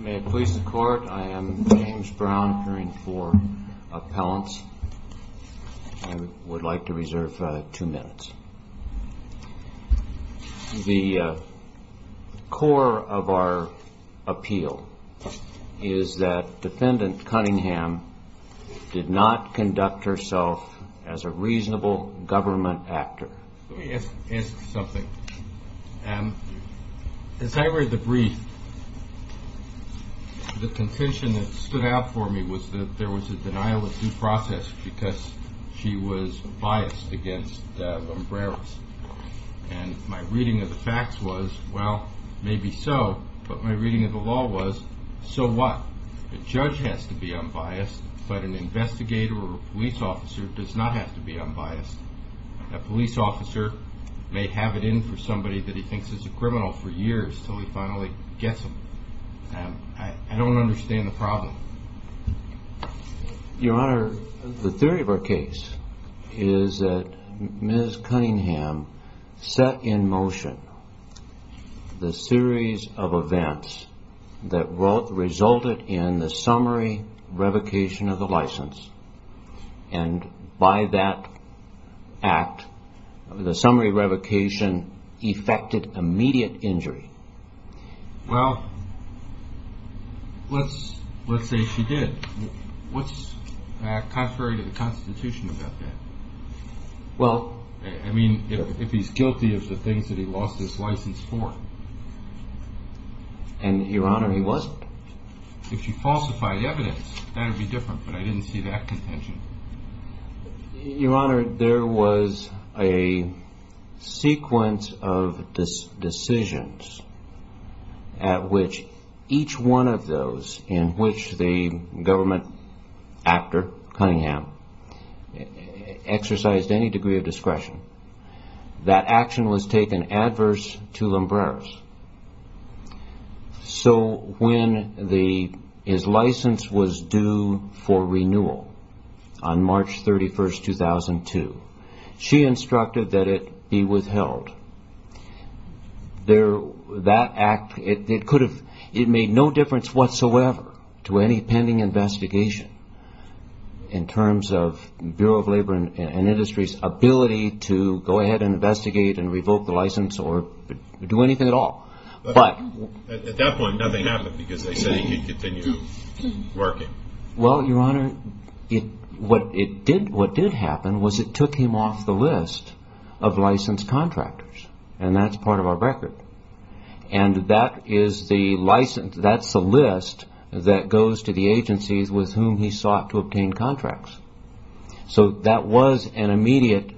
The core of our appeal is that defendant Cunningham did not conduct herself as a reasonable government actor. Let me ask you something. As I read the brief, the contention that stood out for me was that there was a denial of due process because she was biased against Lombreros. And my reading of the facts was, well, maybe so, but my reading of the law was, so what? A judge has to be unbiased, but an investigator or a police officer does not have to be unbiased. A police officer may have it in for somebody that he thinks is a criminal for years until he finally gets them. I don't understand the problem. Your Honor, the theory of our case is that Ms. Cunningham set in motion the series of events that resulted in the summary revocation of the license. And by that act, the summary revocation effected immediate injury. Well, let's say she did. What's contrary to the Constitution about that? I mean, if he's guilty of the things that he lost his license for. And, Your Honor, he wasn't. If you falsify the evidence, that would be different, but I didn't see that contention. Your Honor, there was a sequence of decisions at which each one of those in which the government actor, Cunningham, exercised any degree of discretion, that action was taken adverse to Lombreros. So when his license was due for renewal on March 31, 2002, she instructed that it be withheld. That act, it made no difference whatsoever to any pending investigation in terms of Bureau of Labor and Industry's ability to go ahead and investigate and revoke the license or do anything at all. At that point, nothing happened because they said he could continue working. Well, Your Honor, what did happen was it took him off the list of licensed contractors, and that's part of our record. And that is the list that goes to the agencies with whom he sought to obtain contracts. So that was an immediate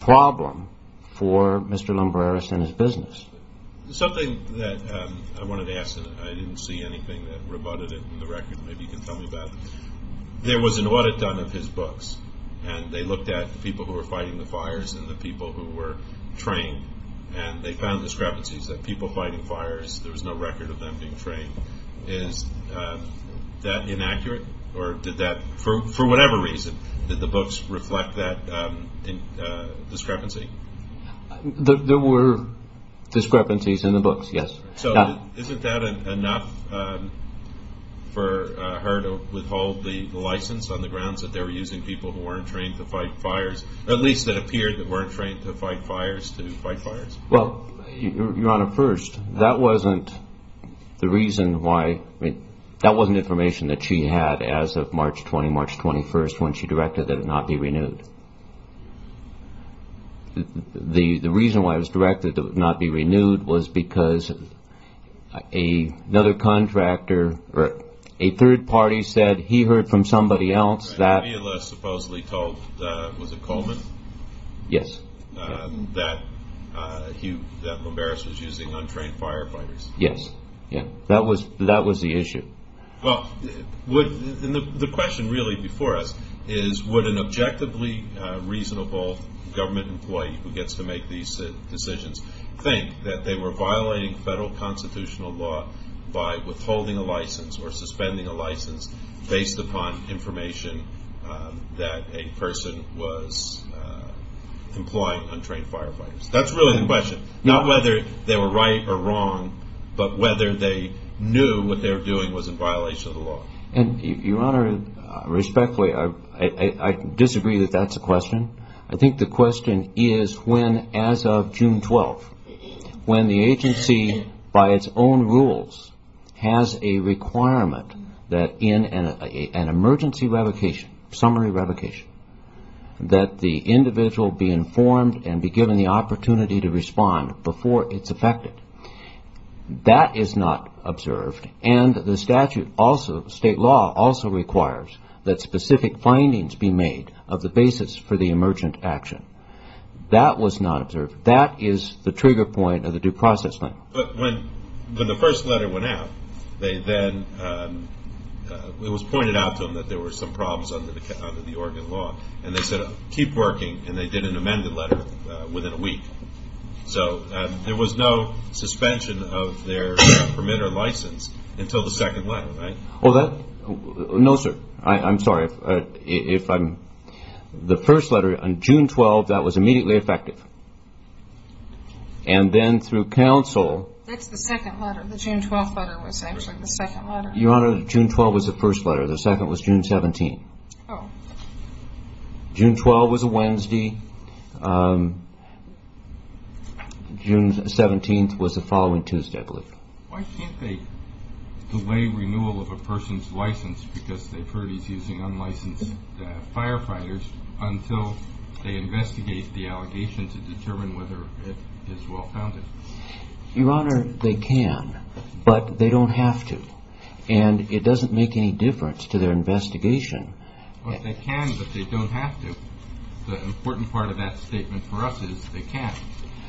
problem for Mr. Lombreros and his business. Something that I wanted to ask, and I didn't see anything that rebutted it in the record. Maybe you can tell me about it. There was an audit done of his books, and they looked at the people who were fighting the fires and the people who were trained, and they found discrepancies. That people fighting fires, there was no record of them being trained. Is that inaccurate, or did that, for whatever reason, did the books reflect that discrepancy? There were discrepancies in the books, yes. So isn't that enough for her to withhold the license on the grounds that they were using people who weren't trained to fight fires? At least it appeared that they weren't trained to fight fires to fight fires. Well, Your Honor, first, that wasn't the reason why, that wasn't information that she had as of March 20, March 21, when she directed that it not be renewed. The reason why it was directed that it not be renewed was because another contractor, or a third party, said he heard from somebody else that- That Leila supposedly told, was it Coleman? Yes. That Lombreros was using untrained firefighters. Yes, that was the issue. Well, the question really before us is would an objectively reasonable government employee who gets to make these decisions think that they were violating federal constitutional law by withholding a license or suspending a license based upon information that a person was employing untrained firefighters? That's really the question. Not whether they were right or wrong, but whether they knew what they were doing was in violation of the law. And, Your Honor, respectfully, I disagree that that's a question. I think the question is when, as of June 12, when the agency, by its own rules, has a requirement that in an emergency revocation, summary revocation, that the individual be informed and be given the opportunity to respond before it's affected. That is not observed, and the statute also, state law, also requires that specific findings be made of the basis for the emergent action. That was not observed. That is the trigger point of the due process thing. But when the first letter went out, it was pointed out to them that there were some problems under the Oregon law, and they said, keep working, and they did an amended letter within a week. So there was no suspension of their permit or license until the second letter, right? No, sir. I'm sorry. The first letter on June 12, that was immediately effective. And then through counsel. That's the second letter. The June 12 letter was actually the second letter. Your Honor, June 12 was the first letter. The second was June 17. Oh. June 12 was a Wednesday. June 17 was the following Tuesday, I believe. Why can't they delay renewal of a person's license because they've heard he's using unlicensed firefighters until they investigate the allegation to determine whether it is well-founded? Your Honor, they can, but they don't have to. And it doesn't make any difference to their investigation. They can, but they don't have to. The important part of that statement for us is they can.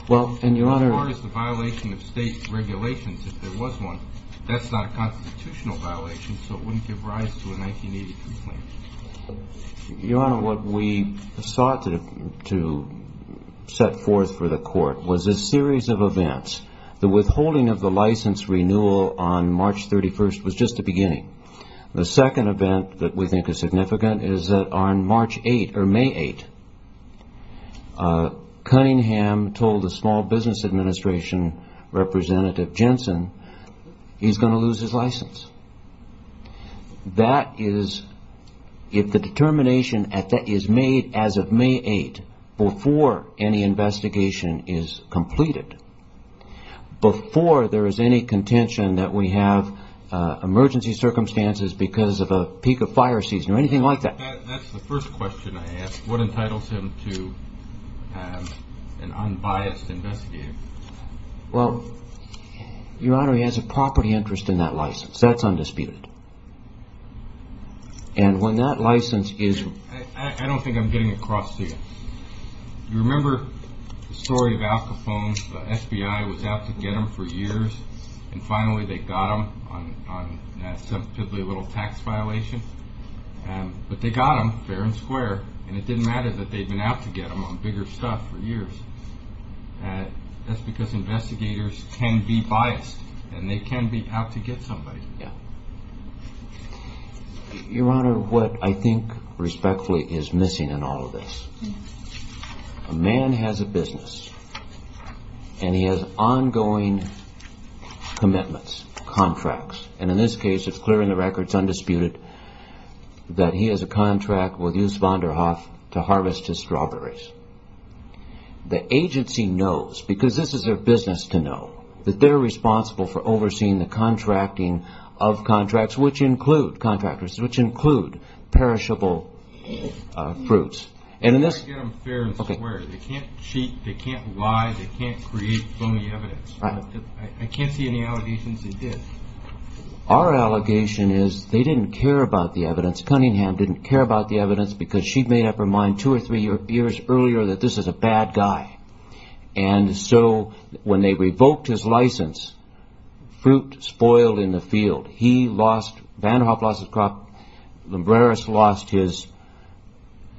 As far as the violation of state regulations, if there was one, that's not a constitutional violation, so it wouldn't give rise to a 1980 complaint. Your Honor, what we sought to set forth for the court was a series of events. The withholding of the license renewal on March 31 was just the beginning. The second event that we think is significant is that on March 8, or May 8, Cunningham told the Small Business Administration Representative Jensen he's going to lose his license. That is, if the determination is made as of May 8, before any investigation is completed, before there is any contention that we have emergency circumstances because of a peak of fire season, or anything like that. That's the first question I ask. What entitles him to an unbiased investigation? Well, Your Honor, he has a property interest in that license. That's undisputed. And when that license is— I don't think I'm getting across to you. You remember the story of Al Capone? The FBI was out to get him for years, and finally they got him on a relatively little tax violation. But they got him fair and square, and it didn't matter that they'd been out to get him on bigger stuff for years. That's because investigators can be biased, and they can be out to get somebody. Your Honor, what I think respectfully is missing in all of this, a man has a business, and he has ongoing commitments, contracts. And in this case, it's clear in the records, undisputed, that he has a contract with Yusef van der Hoff to harvest his strawberries. The agency knows, because this is their business to know, that they're responsible for overseeing the contracting of contracts, which include contractors, which include perishable fruits. And in this— They can't get him fair and square. They can't cheat. They can't lie. They can't create phony evidence. I can't see any allegations they did. Our allegation is they didn't care about the evidence. Cunningham didn't care about the evidence, because she'd made up her mind two or three years earlier that this is a bad guy. And so when they revoked his license, fruit spoiled in the field. He lost—van der Hoff lost his crop. Lembreris lost the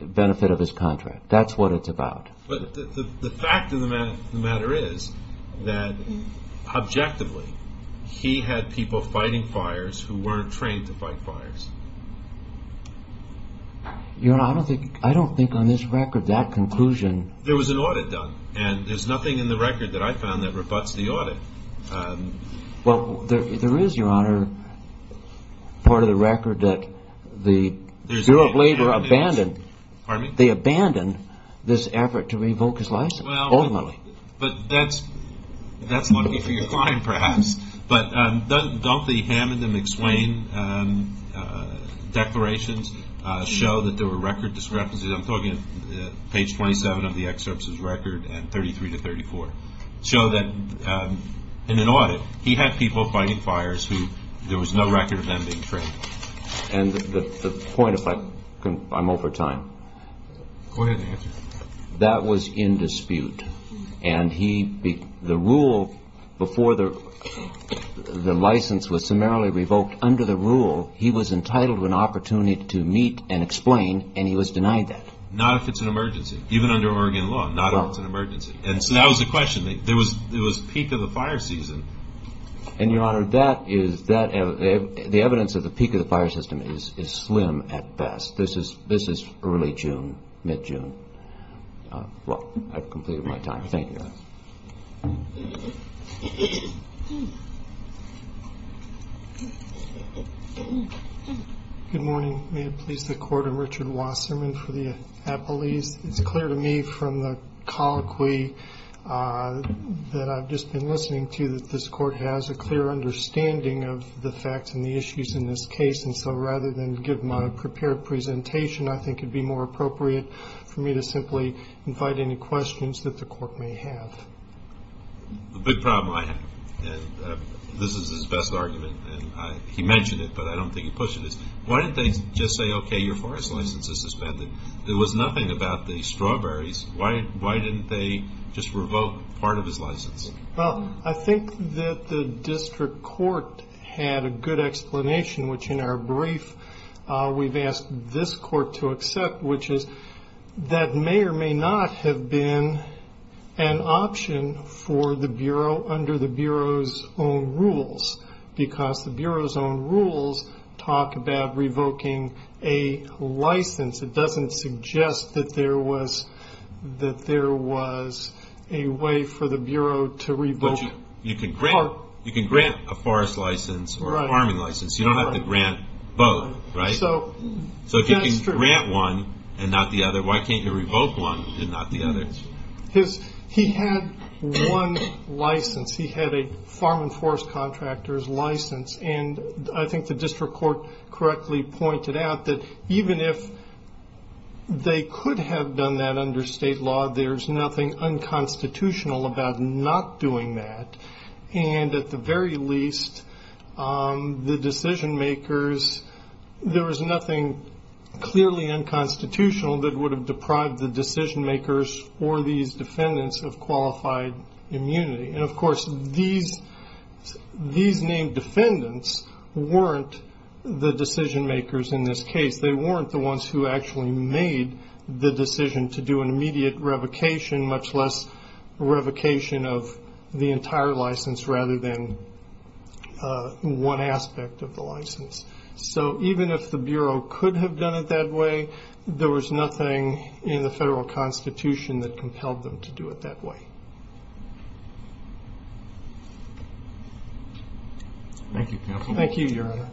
benefit of his contract. That's what it's about. The fact of the matter is that, objectively, he had people fighting fires who weren't trained to fight fires. Your Honor, I don't think on this record that conclusion— There was an audit done, and there's nothing in the record that I found that rebuts the audit. Well, there is, Your Honor, part of the record that the Bureau of Labor abandoned— Pardon me? They abandoned this effort to revoke his license, ultimately. But that's lucky for your client, perhaps. But don't the Hammond and McSwain declarations show that there were record discrepancies? I'm talking page 27 of the excerpts is record, and 33 to 34, show that in an audit he had people fighting fires who there was no record of them being trained. And the point, if I can—I'm over time. Go ahead and answer. That was in dispute. And he—the rule before the license was summarily revoked, under the rule he was entitled to an opportunity to meet and explain, and he was denied that. Not if it's an emergency. Even under Oregon law, not if it's an emergency. And so that was the question. There was peak of the fire season. And, Your Honor, that is—the evidence of the peak of the fire system is slim at best. This is early June, mid-June. Well, I've completed my time. Thank you. Good morning. May it please the Court, I'm Richard Wasserman for the Appalachians. It's clear to me from the colloquy that I've just been listening to that this Court has a clear understanding of the facts and the issues in this case. And so rather than give my prepared presentation, I think it would be more appropriate for me to simply invite any questions that the Court may have. The big problem I have, and this is his best argument, and he mentioned it, but I don't think he pushed it, is why didn't they just say, okay, your forest license is suspended? There was nothing about the strawberries. Why didn't they just revoke part of his license? Well, I think that the District Court had a good explanation, which in our brief we've asked this Court to accept, which is that may or may not have been an option for the Bureau under the Bureau's own rules, because the Bureau's own rules talk about revoking a license. It doesn't suggest that there was a way for the Bureau to revoke... But you can grant a forest license or a farming license. You don't have to grant both, right? So if you can grant one and not the other, why can't you revoke one and not the other? He had one license. He had a farm and forest contractor's license, and I think the District Court correctly pointed out that even if they could have done that under state law, there's nothing unconstitutional about not doing that. And at the very least, the decision-makers, there was nothing clearly unconstitutional that would have deprived the decision-makers or these defendants of qualified immunity. And, of course, these named defendants weren't the decision-makers in this case. They weren't the ones who actually made the decision to do an immediate revocation, much less revocation of the entire license rather than one aspect of the license. So even if the Bureau could have done it that way, there was nothing in the federal constitution that compelled them to do it that way. Thank you, Counsel. Thank you, Your Honor.